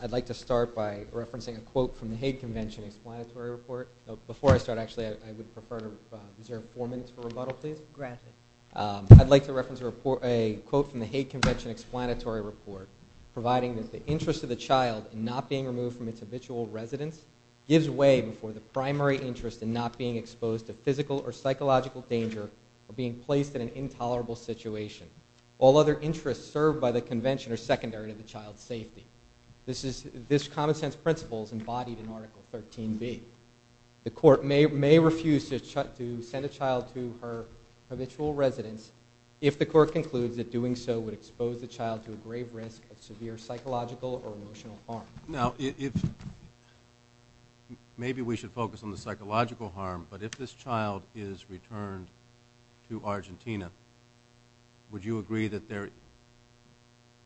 I'd like to start by referencing a quote from the Hague Convention Explanatory Report, providing that the interest of the child in not being removed from its habitual residence gives way before the primary interest in not being exposed to physical or psychological danger or being placed in an intolerable situation. All other interests served by the Convention are secondary to the child's safety. This common sense principle is embodied in Article 13b. The court may refuse to send a child to her habitual residence if the court concludes that doing so would expose the child to a grave risk of severe psychological or emotional harm. Now, maybe we should focus on the psychological harm, but if this child is returned to Argentina, would you agree that there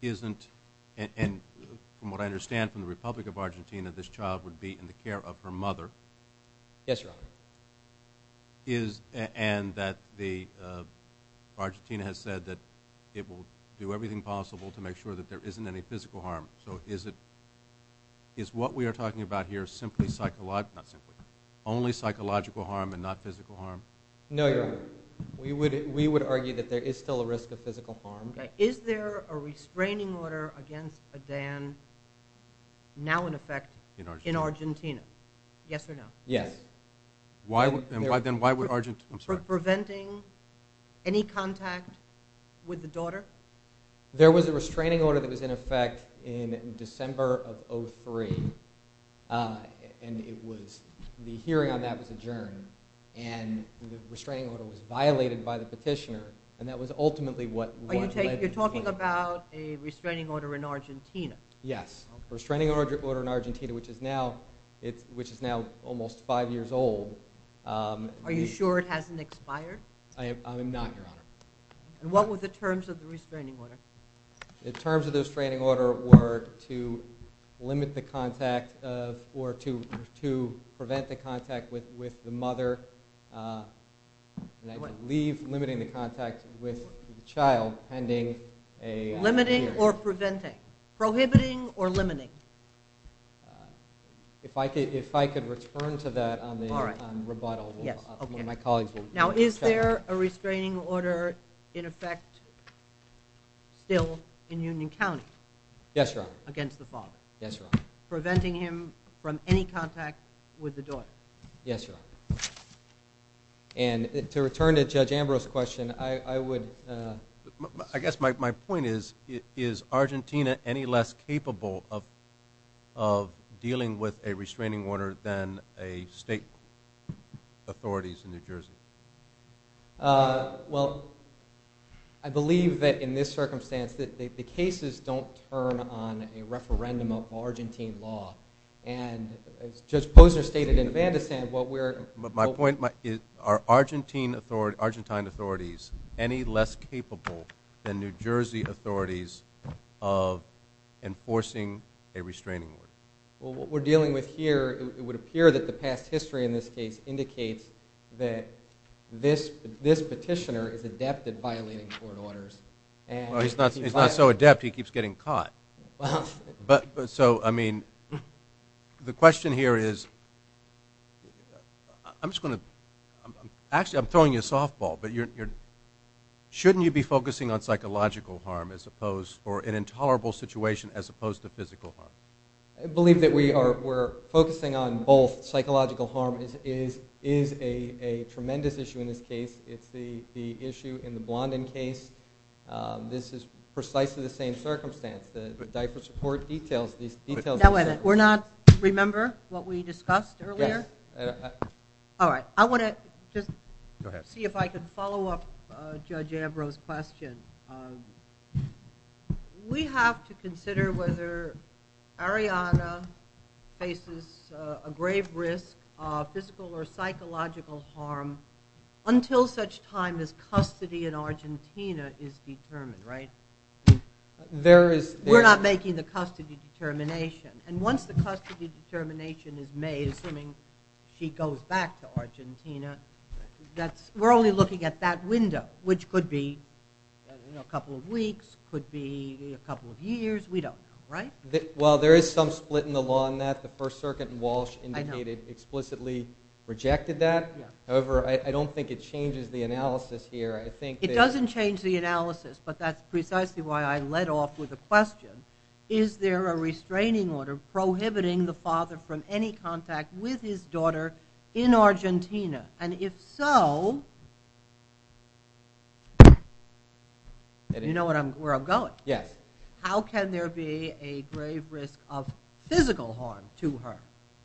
isn't, and from what I understand from the Republic of Argentina, this child would be in the care of her mother. Yes, Your Honor. And that Argentina has said that it will do everything possible to make sure that there isn't any physical harm. So is what we are talking about here only psychological harm and not physical harm? No, Your Honor. We would argue that there is still a risk of physical harm. Is there a restraining order against Adan, now in effect, in Argentina? Yes or no? Yes. Then why would Argentina? For preventing any contact with the daughter? There was a restraining order that was in effect in December of 2003, and the hearing on that was adjourned, and the restraining order was violated by the petitioner, and that was ultimately what led to this violation. You're talking about a restraining order in Argentina? Yes, a restraining order in Argentina, which is now almost five years old. Are you sure it hasn't expired? I am not, Your Honor. And what were the terms of the restraining order? The terms of the restraining order were to limit the contact or to prevent the contact with the mother, and I believe limiting the contact with the child pending a hearing. Limiting or preventing? Prohibiting or limiting? If I could return to that on rebuttal. Yes, okay. Now, is there a restraining order in effect still in Union County? Yes, Your Honor. Against the father? Yes, Your Honor. Preventing him from any contact with the daughter? Yes, Your Honor. And to return to Judge Ambrose's question, I would, I guess my point is, is Argentina any less capable of dealing with a restraining order than a state authorities in New Jersey? Well, I believe that in this circumstance, the cases don't turn on a referendum of Argentine law, and as Judge Posner stated in Vandisant, what we're going to do is Are Argentine authorities any less capable than New Jersey authorities of enforcing a restraining order? Well, what we're dealing with here, it would appear that the past history in this case indicates that this petitioner is adept at violating court orders. Well, he's not so adept, he keeps getting caught. So, I mean, the question here is, I'm just going to, actually I'm throwing you a softball, but shouldn't you be focusing on psychological harm as opposed, or an intolerable situation as opposed to physical harm? I believe that we're focusing on both. Psychological harm is a tremendous issue in this case. It's the issue in the Blondin case. This is precisely the same circumstance. The diaper support details, these details. Now wait a minute. We're not, remember what we discussed earlier? Yes. All right. I want to just see if I could follow up Judge Ambrose's question. We have to consider whether Ariana faces a grave risk of physical or psychological harm until such time as custody in Argentina is determined, right? There is. We're not making the custody determination. And once the custody determination is made, assuming she goes back to Argentina, we're only looking at that window, which could be a couple of weeks, could be a couple of years. We don't know, right? Well, there is some split in the law on that. The First Circuit in Walsh indicated explicitly rejected that. However, I don't think it changes the analysis here. It doesn't change the analysis, but that's precisely why I led off with a question. Is there a restraining order prohibiting the father from any contact with his daughter in Argentina? And if so, you know where I'm going. Yes. How can there be a grave risk of physical harm to her?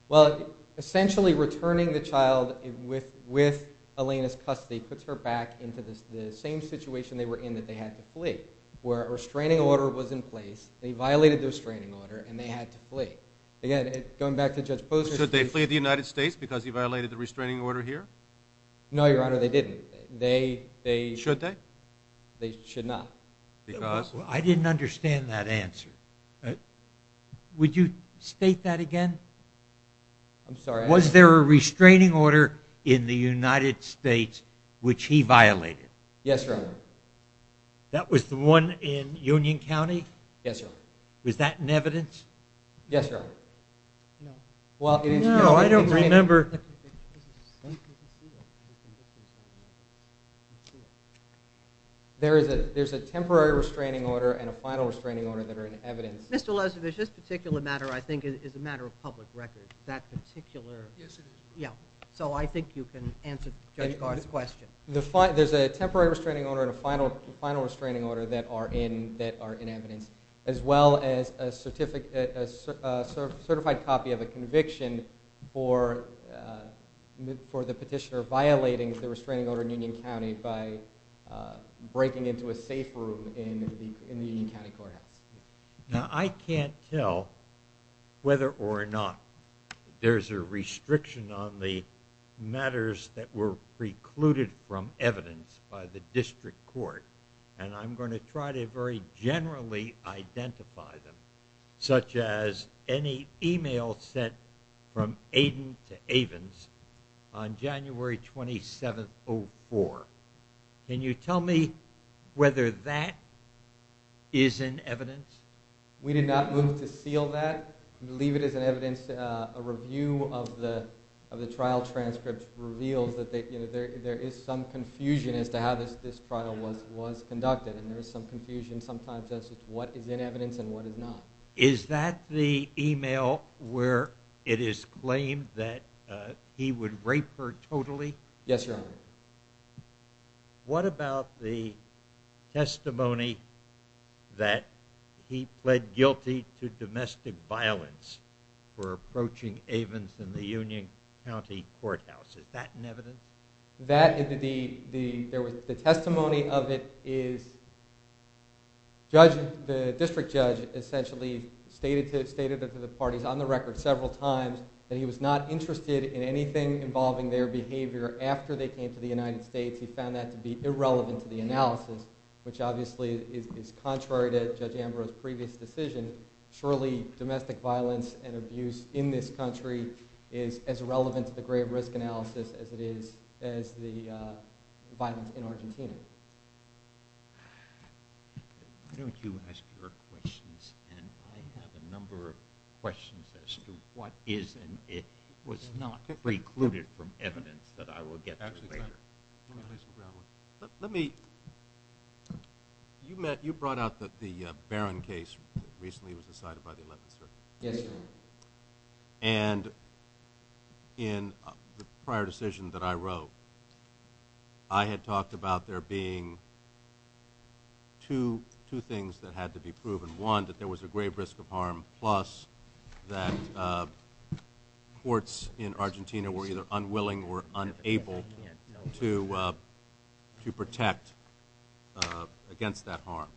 Well, essentially returning the child with Elena's custody puts her back into the same situation they were in that they had to flee, where a restraining order was in place. They violated the restraining order, and they had to flee. Again, going back to Judge Posner. Should they flee the United States because he violated the restraining order here? No, Your Honor, they didn't. Should they? They should not. Because? I didn't understand that answer. Would you state that again? I'm sorry. Was there a restraining order in the United States which he violated? Yes, Your Honor. That was the one in Union County? Yes, Your Honor. Was that in evidence? Yes, Your Honor. No, I don't remember. There's a temporary restraining order and a final restraining order that are in evidence. Mr. Lezovich, this particular matter, I think, is a matter of public record. That particular. Yes, it is. So I think you can answer Judge Garth's question. There's a temporary restraining order and a final restraining order that are in evidence, as well as a certified copy of a conviction for the petitioner violating the restraining order in Union County by breaking into a safe room in the Union County Courthouse. Now, I can't tell whether or not there's a restriction on the matters that were precluded from evidence by the district court, and I'm going to try to very generally identify them, such as any email sent from Aiden to Avens on January 27th, 2004. Can you tell me whether that is in evidence? We did not move to seal that. We believe it is in evidence. A review of the trial transcript reveals that there is some confusion as to how this trial was conducted, and there is some confusion sometimes as to what is in evidence and what is not. Is that the email where it is claimed that he would rape her totally? Yes, Your Honor. What about the testimony that he pled guilty to domestic violence for approaching Avens in the Union County Courthouse? Is that in evidence? The testimony of it is the district judge essentially stated to the parties on the record several times that he was not interested in anything involving their behavior after they came to the United States. He found that to be irrelevant to the analysis, which obviously is contrary to Judge Ambrose's previous decision. It's not as relevant to the grave risk analysis as it is the violence in Argentina. Why don't you ask your questions, and I have a number of questions as to what is and was not precluded from evidence that I will get to later. You brought out that the Barron case recently was decided by the 11th Circuit. Yes, Your Honor. And in the prior decision that I wrote, I had talked about there being two things that had to be proven. One, that there was a grave risk of harm, plus that courts in Argentina were either unwilling or unable to protect against that harm.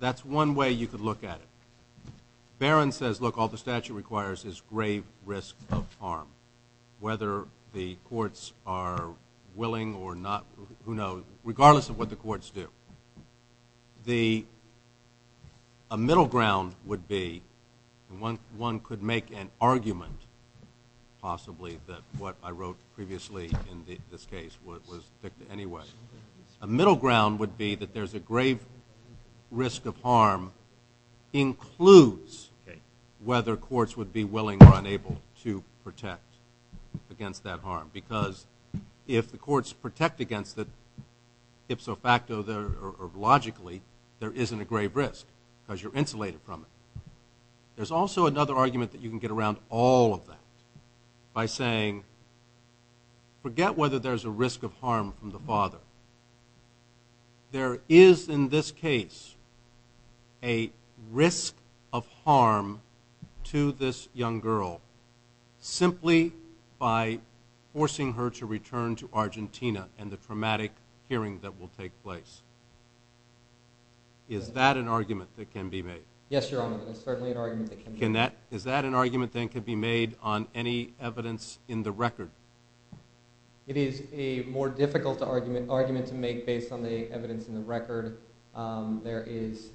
That's one way you could look at it. Barron says, look, all the statute requires is grave risk of harm, whether the courts are willing or not, who knows, regardless of what the courts do. A middle ground would be one could make an argument, possibly, that what I wrote previously in this case was anyway. A middle ground would be that there's a grave risk of harm includes whether courts would be willing or unable to protect against that harm, because if the courts protect against it, ipso facto or logically, there isn't a grave risk because you're insulated from it. There's also another argument that you can get around all of that by saying, forget whether there's a risk of harm from the father. There is, in this case, a risk of harm to this young girl simply by forcing her to return to Argentina and the traumatic hearing that will take place. Is that an argument that can be made? Yes, Your Honor, that is certainly an argument that can be made. Is that an argument that can be made on any evidence in the record? It is a more difficult argument to make based on the evidence in the record. There is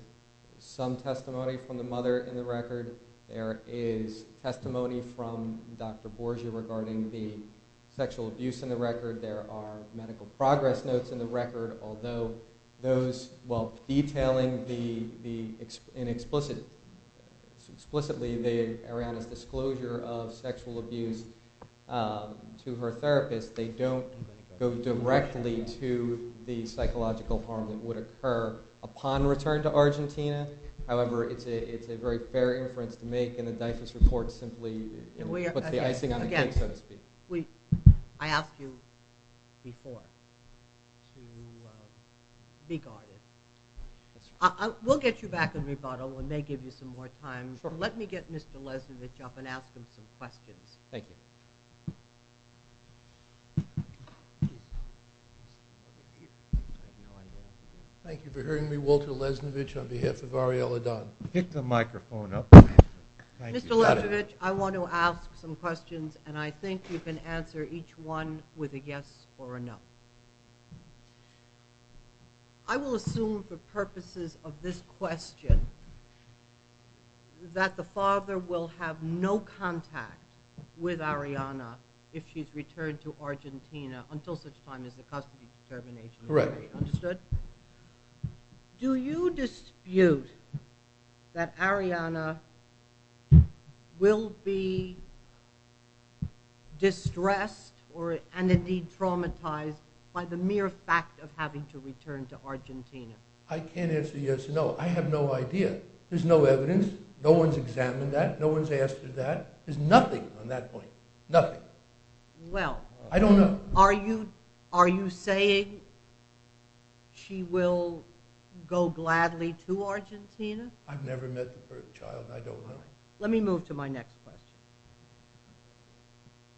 some testimony from the mother in the record. There is testimony from Dr. Borgia regarding the sexual abuse in the record. There are medical progress notes in the record, although those detailing explicitly Ariana's disclosure of sexual abuse to her therapist, they don't go directly to the psychological harm that would occur upon return to Argentina. However, it's a very fair inference to make, and the DIFAS report simply puts the icing on the cake, so to speak. I asked you before to be guarded. We'll get you back in rebuttal when they give you some more time. Let me get Mr. Lesnovich up and ask him some questions. Thank you. Thank you for hearing me, Walter Lesnovich, on behalf of Arielle Adon. Pick the microphone up. Mr. Lesnovich, I want to ask some questions, and I think you can answer each one with a yes or a no. I will assume for purposes of this question that the father will have no contact with Ariana if she's returned to Argentina until such time as the custody determination is ready. Understood? Do you dispute that Ariana will be distressed and indeed traumatized by the mere fact of having to return to Argentina? I can't answer yes or no. I have no idea. There's no evidence. No one's examined that. No one's asked her that. There's nothing on that point. Nothing. Well. I don't know. Are you saying she will go gladly to Argentina? I've never met the first child, and I don't know. Let me move to my next question.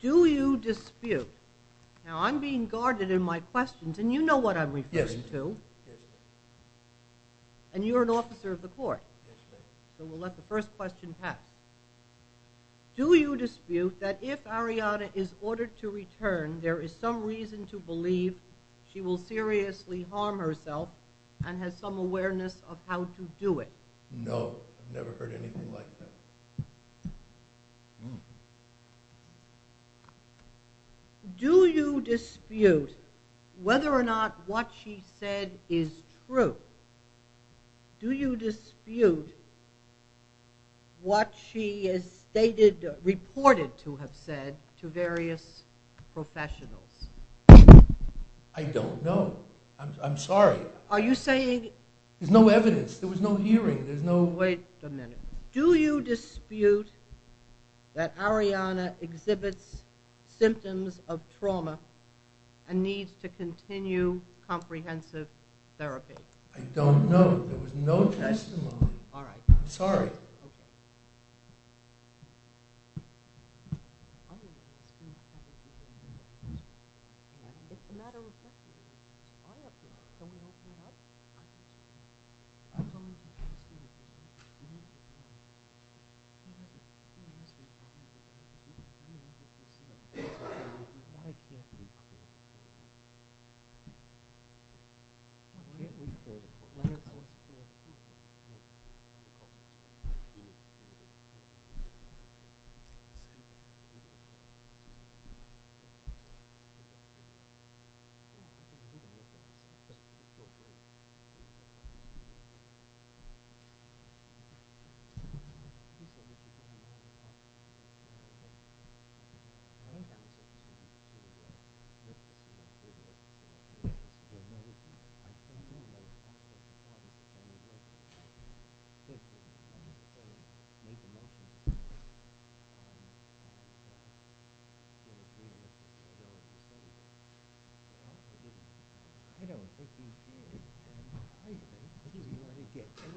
Do you dispute? Now, I'm being guarded in my questions, and you know what I'm referring to. Yes, ma'am. And you're an officer of the court. Yes, ma'am. So we'll let the first question pass. Do you dispute that if Ariana is ordered to return, there is some reason to believe she will seriously harm herself and has some awareness of how to do it? No. I've never heard anything like that. Do you dispute whether or not what she said is true? Do you dispute what she is stated, reported to have said to various professionals? I don't know. I'm sorry. Are you saying? There's no evidence. There was no hearing. There's no. Wait a minute. Do you dispute that Ariana exhibits symptoms of trauma and needs to continue comprehensive therapy? I don't know. There was no testimony. All right. I'm sorry. Okay. Okay.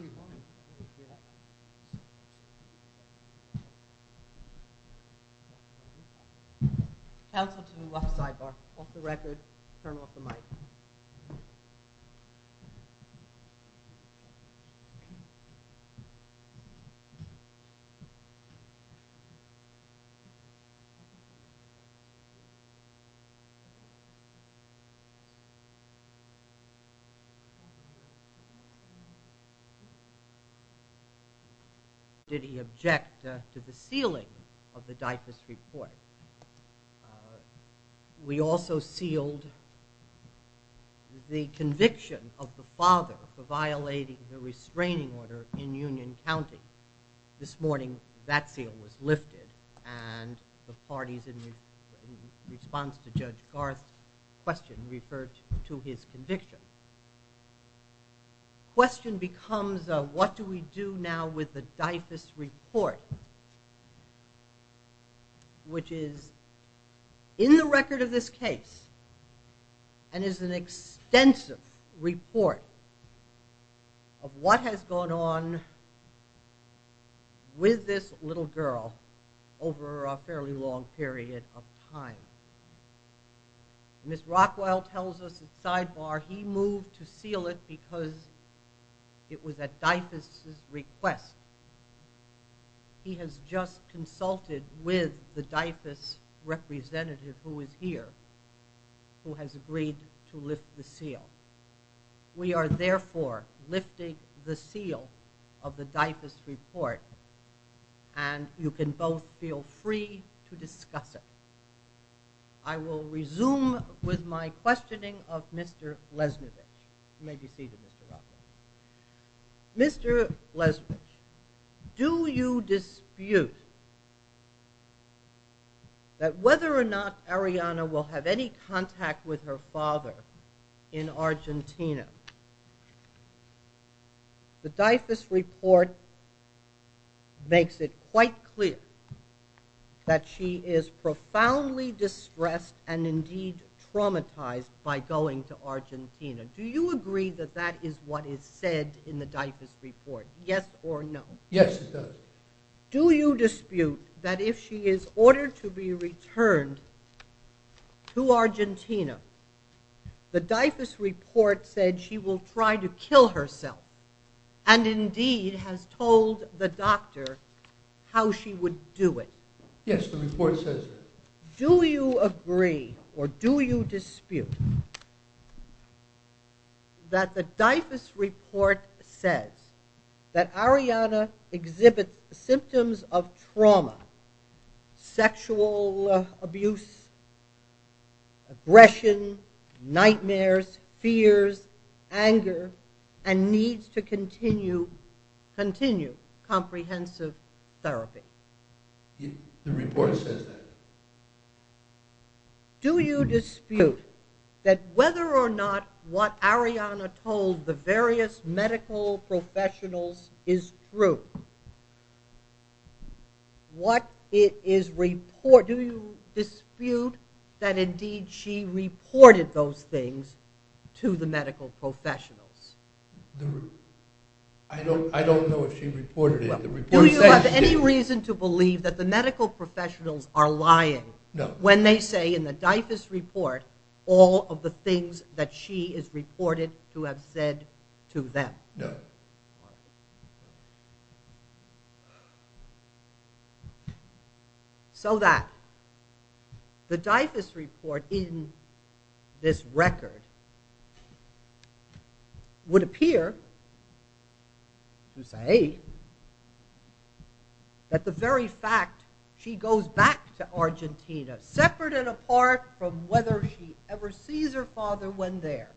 One more time. Counsel to the left sidebar. Off the record. Turn off the mic. Did he object to the sealing of the diaphragm report? We also sealed the conviction of the father for violating the restraining order in Union County. This morning that seal was lifted and the parties in response to Judge Garth's question referred to his conviction. The question becomes what do we do now with the diaphragm report, which is in the record of this case and is an extensive report of what has gone on with this little girl over a fairly long period of time. Ms. Rockwell tells us at sidebar he moved to seal it because it was at Dyfus' request. He has just consulted with the Dyfus representative who is here who has agreed to lift the seal. We are therefore lifting the seal of the Dyfus report and you can both feel free to discuss it. I will resume with my questioning of Mr. Lesnovick. You may be seated, Mr. Rockwell. Mr. Lesnovick, do you dispute that whether or not Ariana will have any contact with her father in Argentina? The Dyfus report makes it quite clear that she is profoundly distressed and indeed traumatized by going to Argentina. Do you agree that that is what is said in the Dyfus report, yes or no? Yes, it does. Do you dispute that if she is ordered to be returned to Argentina, the Dyfus report said she will try to kill herself and indeed has told the doctor how she would do it? Yes, the report says that. Do you agree or do you dispute that the Dyfus report says that Ariana exhibits symptoms of trauma, sexual abuse, aggression, nightmares, fears, anger, and needs to continue comprehensive therapy? The report says that. Do you dispute that whether or not what Ariana told the various medical professionals is true? Do you dispute that indeed she reported those things to the medical professionals? I don't know if she reported it. Do you have any reason to believe that the medical professionals are lying when they say in the Dyfus report all of the things that she has reported to have said to them? No. So that the Dyfus report in this record would appear to say to me that the very fact she goes back to Argentina, separate and apart from whether she ever sees her father when there,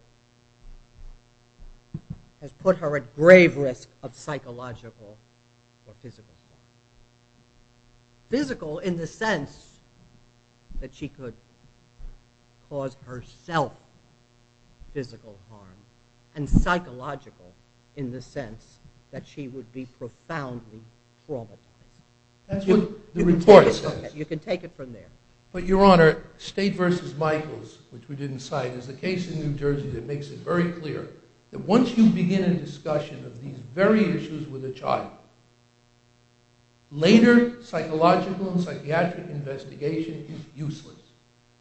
has put her at grave risk of psychological or physical harm. Physical in the sense that she could cause herself physical harm and psychological in the sense that she would be profoundly traumatized. That's what the report says. You can take it from there. But, Your Honor, State v. Michaels, which we didn't cite, is a case in New Jersey that makes it very clear that once you begin a discussion of these very issues with a child, later psychological and psychiatric investigation is useless.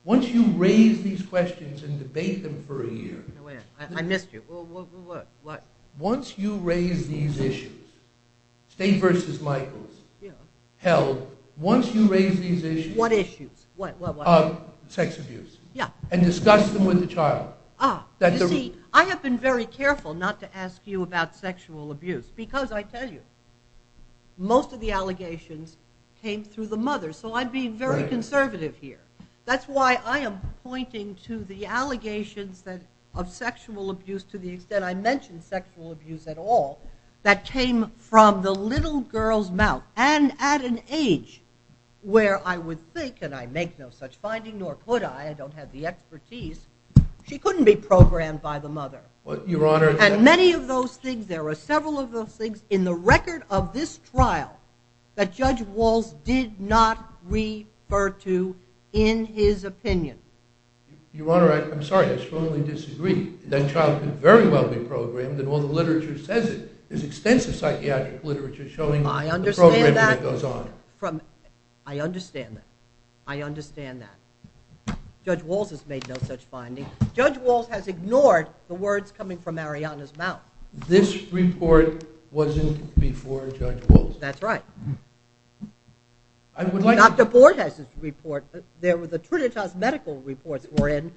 Once you raise these questions and debate them for a year. I missed you. What? Once you raise these issues, State v. Michaels held, once you raise these issues. What issues? Sex abuse. Yeah. And discuss them with the child. You see, I have been very careful not to ask you about sexual abuse because, I tell you, most of the allegations came through the mother. So I'm being very conservative here. That's why I am pointing to the allegations of sexual abuse, to the extent I mention sexual abuse at all, that came from the little girl's mouth and at an age where I would think, and I make no such finding, nor could I, I don't have the expertise, she couldn't be programmed by the mother. Your Honor. And many of those things, there were several of those things, in the record of this trial that Judge Walz did not refer to in his opinion. Your Honor, I'm sorry, I strongly disagree. That child could very well be programmed, and all the literature says it. There's extensive psychiatric literature showing the programming that goes on. I understand that. I understand that. I understand that. Judge Walz has made no such finding. Judge Walz has ignored the words coming from Mariana's mouth. This report wasn't before Judge Walz. That's right. Dr. Borges' report, the Trinitas medical reports were in.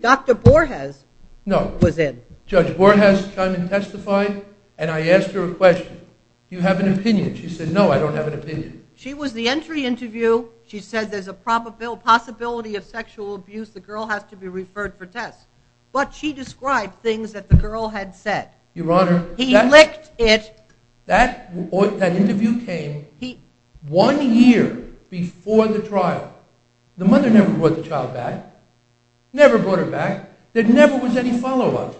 Dr. Borges was in. No. Judge Borges testified, and I asked her a question. Do you have an opinion? She said, no, I don't have an opinion. She was the entry interview. She said there's a possibility of sexual abuse. The girl has to be referred for tests. But she described things that the girl had said. Your Honor. He licked it. That interview came one year before the trial. The mother never brought the child back, never brought her back. There never was any follow-up.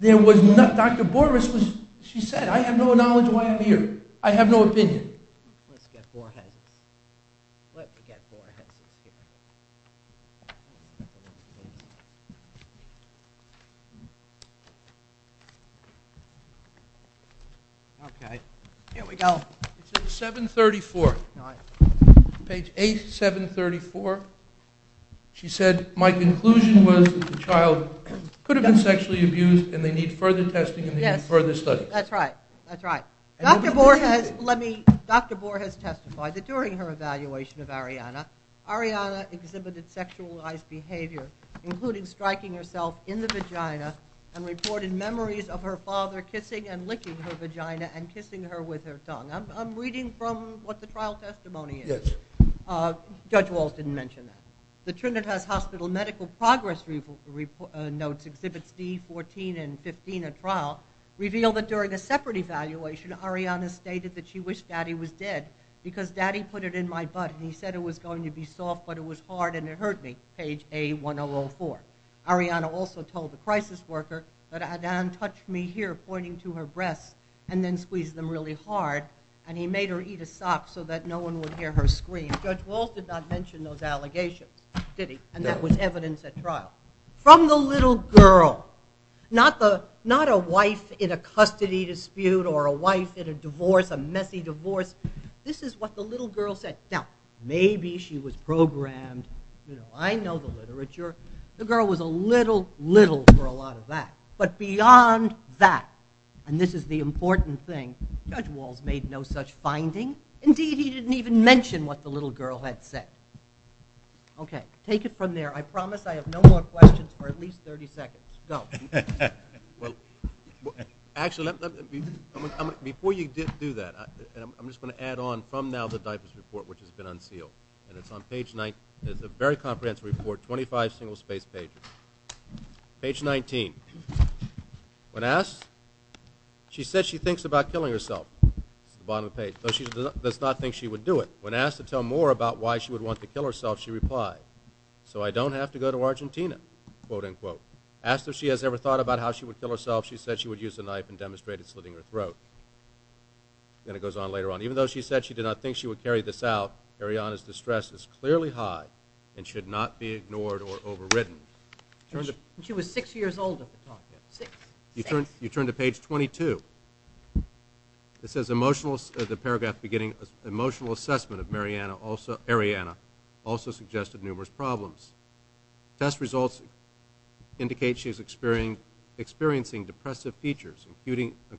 Dr. Borges, she said, I have no knowledge why I'm here. I have no opinion. Let's get Borges. Let's get Borges. Okay. Here we go. It's at 734. Page A, 734. She said, my conclusion was the child could have been sexually abused and they need further testing and they need further studies. That's right. That's right. Dr. Borges testified that during her evaluation of Arianna, Arianna exhibited sexualized behavior, including striking herself in the vagina and reported memories of her father kissing and licking her vagina and kissing her with her tongue. I'm reading from what the trial testimony is. Yes. Judge Walz didn't mention that. The Trinitas Hospital medical progress notes, Exhibits D, 14 and 15 at trial, reveal that during a separate evaluation, Arianna stated that she wished Daddy was dead because Daddy put it in my butt and he said it was going to be soft, but it was hard and it hurt me. Page A, 1004. Arianna also told the crisis worker that Adan touched me here, pointing to her breasts and then squeezed them really hard and he made her eat a sock so that no one would hear her scream. Judge Walz did not mention those allegations, did he? No. And that was evidence at trial. From the little girl, not a wife in a custody dispute or a wife in a divorce, a messy divorce. This is what the little girl said. Now, maybe she was programmed. I know the literature. The girl was a little, little for a lot of that. But beyond that, and this is the important thing, Judge Walz made no such finding. Indeed, he didn't even mention what the little girl had said. Okay. Take it from there. I promise I have no more questions for at least 30 seconds. Go. Well, actually, before you do that, I'm just going to add on from now the DIFAS report, which has been unsealed. And it's on page 9. It's a very comprehensive report, 25 single-spaced pages. Page 19. When asked, she said she thinks about killing herself. That's the bottom of the page. She does not think she would do it. When asked to tell more about why she would want to kill herself, she replied, no, so I don't have to go to Argentina, quote, unquote. Asked if she has ever thought about how she would kill herself, she said she would use a knife and demonstrate it slitting her throat. And it goes on later on. Even though she said she did not think she would carry this out, Ariana's distress is clearly high and should not be ignored or overridden. She was 6 years old at the time. 6. You turn to page 22. It says emotional, the paragraph beginning, emotional assessment of Ariana also suggested numerous problems. Test results indicate she is experiencing depressive features,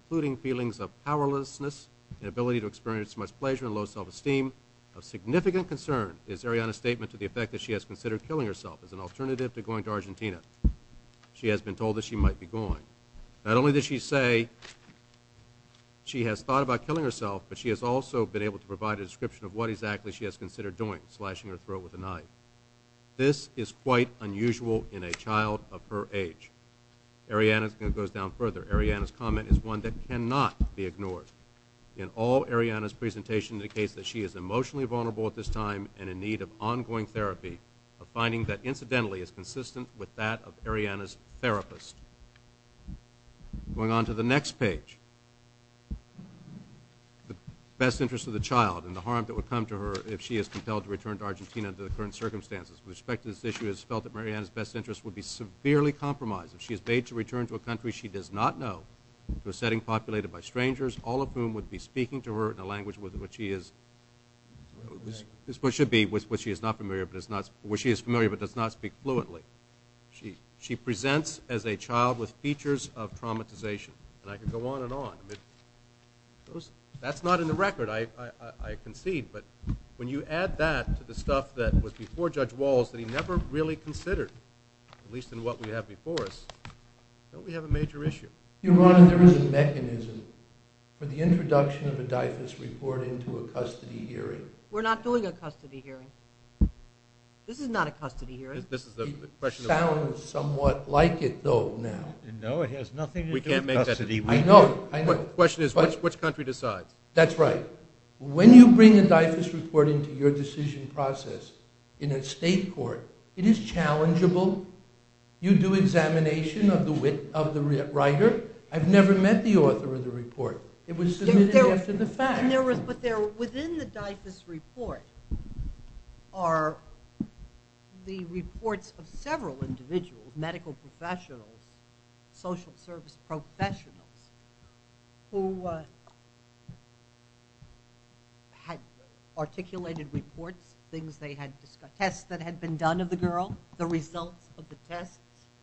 including feelings of powerlessness, inability to experience much pleasure and low self-esteem. Of significant concern is Ariana's statement to the effect that she has considered killing herself as an alternative to going to Argentina. She has been told that she might be going. Not only did she say she has thought about killing herself, but she has also been able to provide a description of what exactly she has considered doing, slashing her throat with a knife. This is quite unusual in a child of her age. Ariana goes down further. Ariana's comment is one that cannot be ignored. In all, Ariana's presentation indicates that she is emotionally vulnerable at this time and in need of ongoing therapy, a finding that incidentally is consistent with that of Ariana's therapist. Going on to the next page. The best interest of the child and the harm that would come to her if she is compelled to return to Argentina under the current circumstances. With respect to this issue, it is felt that Ariana's best interest would be severely compromised if she is bade to return to a country she does not know, to a setting populated by strangers, all of whom would be speaking to her in a language with which she is, which should be with which she is not familiar, where she is familiar but does not speak fluently. She presents as a child with features of traumatization. And I could go on and on. That's not in the record. I concede. But when you add that to the stuff that was before Judge Walls that he never really considered, at least in what we have before us, don't we have a major issue? Your Honor, there is a mechanism for the introduction of a DIFAS report into a custody hearing. We're not doing a custody hearing. This is not a custody hearing. This is the question. It sounds somewhat like it, though, now. No, it has nothing to do with custody. I know. The question is, which country decides? That's right. When you bring a DIFAS report into your decision process in a state court, it is challengeable. You do examination of the writer. I've never met the author of the report. It was submitted after the fact. But within the DIFAS report are the reports of several individuals, medical professionals, social service professionals, who had articulated reports, things they had discussed, tests that had been done of the girl, the results of the tests.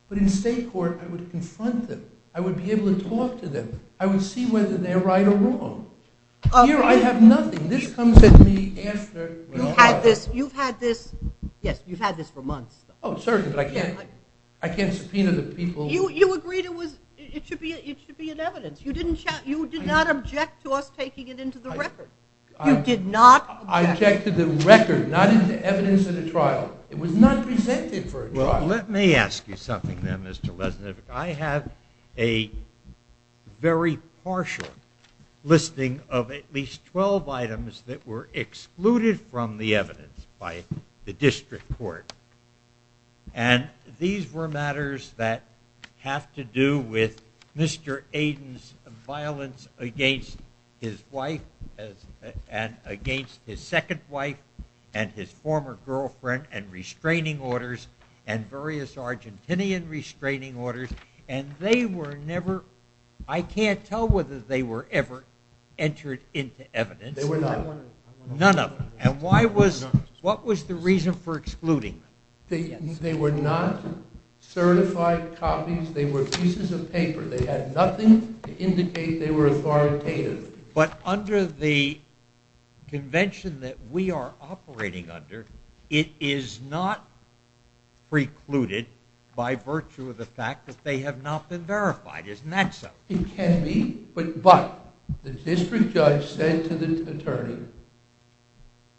But in state court I would confront them. I would be able to talk to them. I would see whether they're right or wrong. Here I have nothing. This comes at me after. You've had this for months. Oh, certainly, but I can't subpoena the people. You agreed it should be in evidence. You did not object to us taking it into the record. You did not object. I objected to the record, not into evidence at a trial. It was not presented for a trial. Well, let me ask you something then, Mr. Lesnick. I have a very partial listing of at least 12 items that were excluded from the evidence by the district court. And these were matters that have to do with Mr. Aden's violence against his wife and against his second wife and his former girlfriend and restraining orders and various Argentinian restraining orders. And they were never – I can't tell whether they were ever entered into evidence. None of them. None of them. And why was – what was the reason for excluding them? They were not certified copies. They were pieces of paper. They had nothing to indicate they were authoritative. But under the convention that we are operating under, it is not precluded by virtue of the fact that they have not been verified. Isn't that so? It can be. But the district judge said to the attorney,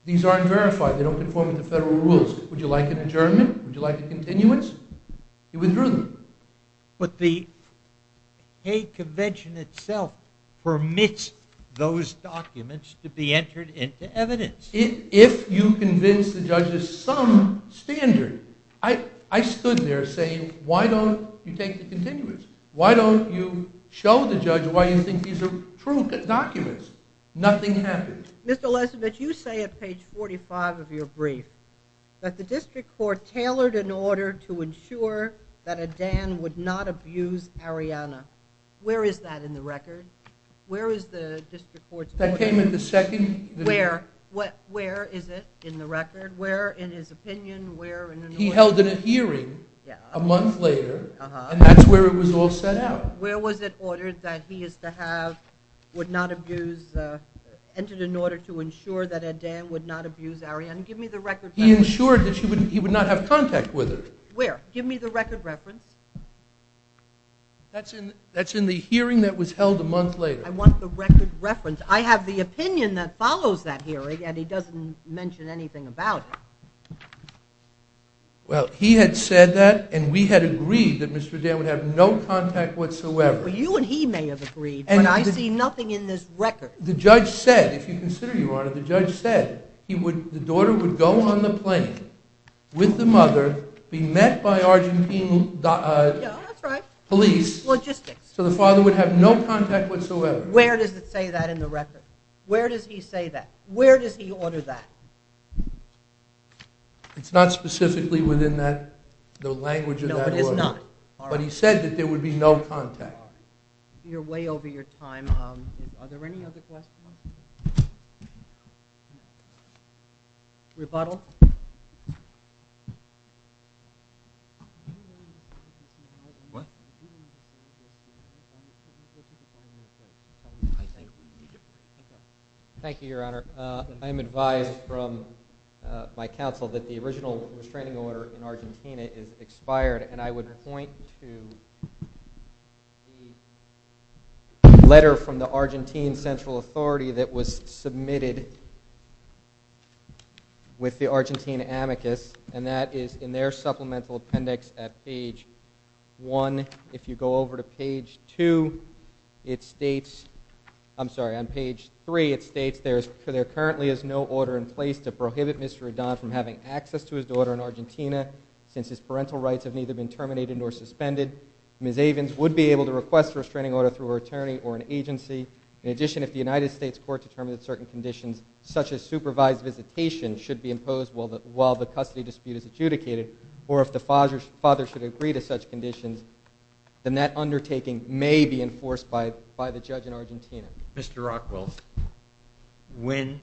these aren't verified. They don't conform to the federal rules. Would you like an adjournment? Would you like a continuance? He withdrew them. But the convention itself permits those documents to be entered into evidence. If you convince the judge of some standard, I stood there saying, why don't you take the continuance? Why don't you show the judge why you think these are true documents? Nothing happened. Mr. Lesovitz, you say at page 45 of your brief that the district court tailored an order to ensure that Adan would not abuse Ariana. Where is that in the record? Where is the district court's – That came in the second – Where? Where is it in the record? Where in his opinion? Where in – He held a hearing a month later. And that's where it was all set out. Where was it ordered that he is to have – would not abuse – entered an order to ensure that Adan would not abuse Ariana? Give me the record reference. He ensured that he would not have contact with her. Where? Give me the record reference. That's in the hearing that was held a month later. I want the record reference. I have the opinion that follows that hearing, and he doesn't mention anything about it. Well, he had said that, and we had agreed that Mr. Adan would have no contact whatsoever. Well, you and he may have agreed, but I see nothing in this record. The judge said, if you consider, Your Honor, the judge said the daughter would go on the plane with the mother, be met by Argentine police. Logistics. So the father would have no contact whatsoever. Where does it say that in the record? Where does he say that? It's not specifically within the language of that order. No, it is not. But he said that there would be no contact. You're way over your time. Are there any other questions? Rebuttal? Thank you, Your Honor. I am advised from my counsel that the original restraining order in Argentina is expired, and I would point to the letter from the Argentine Central Authority that was submitted with the Argentine amicus, and that is in their supplemental appendix at page 1. If you go over to page 2, it states, I'm sorry, on page 3, it states there currently is no order in place to prohibit Mr. Adan from having access to his daughter in Argentina since his parental rights have neither been terminated nor suspended. Ms. Avins would be able to request a restraining order through her attorney or an agency. In addition, if the United States court determined that certain conditions, such as supervised visitation, should be imposed while the custody dispute is adjudicated, or if the father should agree to such conditions, then that undertaking may be enforced by the judge in Argentina. Mr. Rockwell, when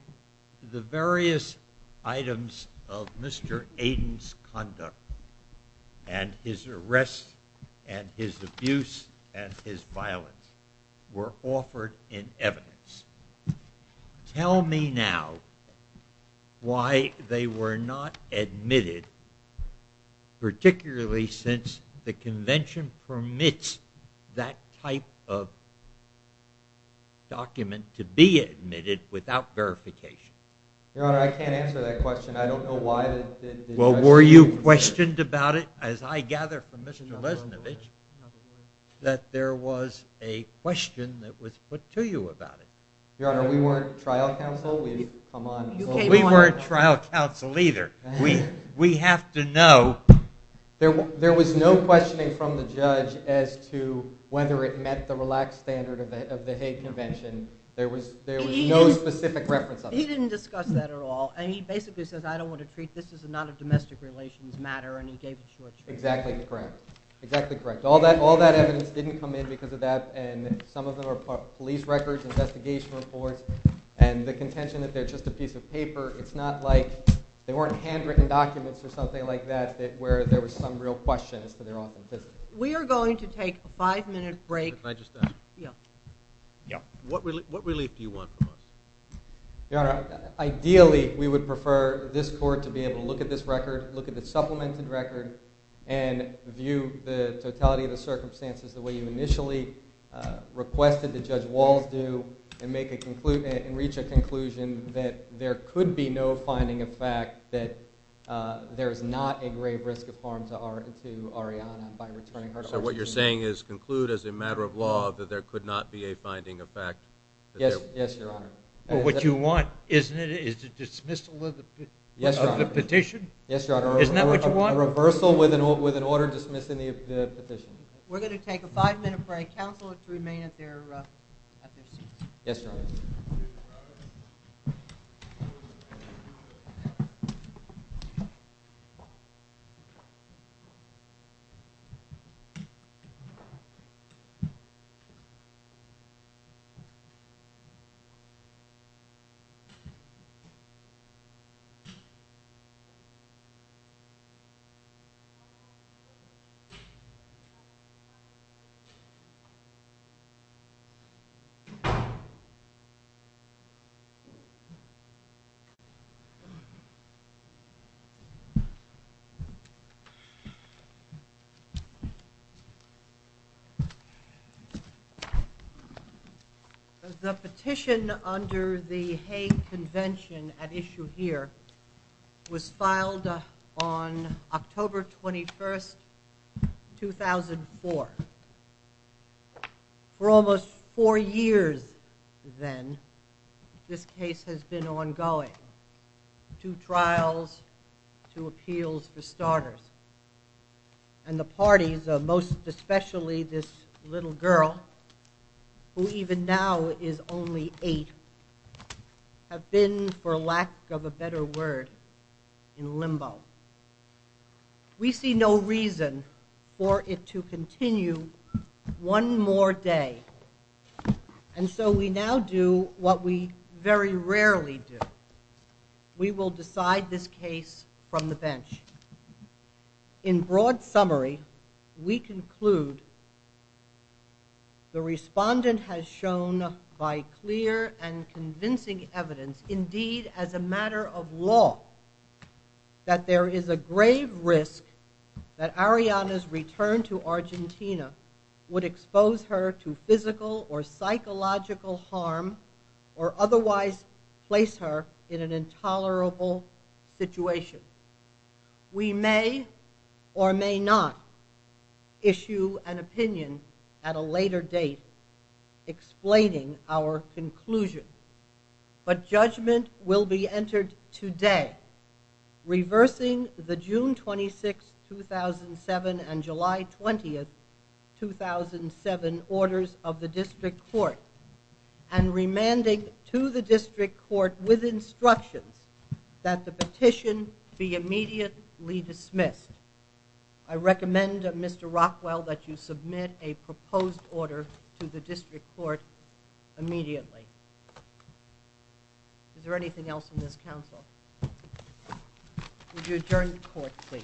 the various items of Mr. Adan's conduct and his arrests and his abuse and his violence were offered in evidence, tell me now why they were not admitted, particularly since the convention permits that type of document to be admitted without verification? Your Honor, I can't answer that question. I don't know why. Well, were you questioned about it? As I gather from Mr. Lesnovich, that there was a question that was put to you about it. Your Honor, we weren't trial counsel. We weren't trial counsel either. We have to know. There was no questioning from the judge as to whether it met the relaxed standard of the Hague Convention. There was no specific reference of it. He didn't discuss that at all, and he basically said, I don't want to treat this as a non-domestic relations matter, and he gave the short answer. Exactly correct. Exactly correct. All that evidence didn't come in because of that, and some of them are police records, investigation reports, and the contention that they're just a piece of paper. It's not like they weren't handwritten documents or something like that where there was some real question as to their authenticity. We are going to take a five-minute break. Can I just ask? Yeah. What relief do you want from us? Your Honor, ideally, we would prefer this Court to be able to look at this record, look at the supplemented record, and view the totality of the circumstances the way you initially requested that Judge Walls do and reach a conclusion that there could be no finding of fact that there is not a grave risk of harm to Ariana by returning her to Argentina. So what you're saying is conclude as a matter of law that there could not be a finding of fact? Yes, Your Honor. But what you want, isn't it, is a dismissal of the petition? Yes, Your Honor. Isn't that what you want? A reversal with an order dismissing the petition. We're going to take a five-minute break. Counselors remain at their positions. Yes, Your Honor. Thank you. The petition under the Hague Convention at issue here was filed on October 21, 2004. For almost four years then, this case has been ongoing. Two trials, two appeals for starters. And the parties, most especially this little girl, who even now is only eight, have been, for lack of a better word, in limbo. We see no reason for it to continue one more day. And so we now do what we very rarely do. We will decide this case from the bench. In broad summary, we conclude the respondent has shown, by clear and convincing evidence, indeed, as a matter of law, that there is a grave risk that Ariana's return to Argentina would expose her to physical or psychological harm or otherwise place her in an intolerable situation. We may or may not issue an opinion at a later date explaining our conclusion. But judgment will be entered today, reversing the June 26, 2007, and July 20, 2007 orders of the District Court and remanding to the District Court with instructions that the petition be immediately dismissed. I recommend, Mr. Rockwell, that you submit a proposed order to the District Court immediately. Is there anything else in this counsel? Would you adjourn the court, please? Thank you. Thank you.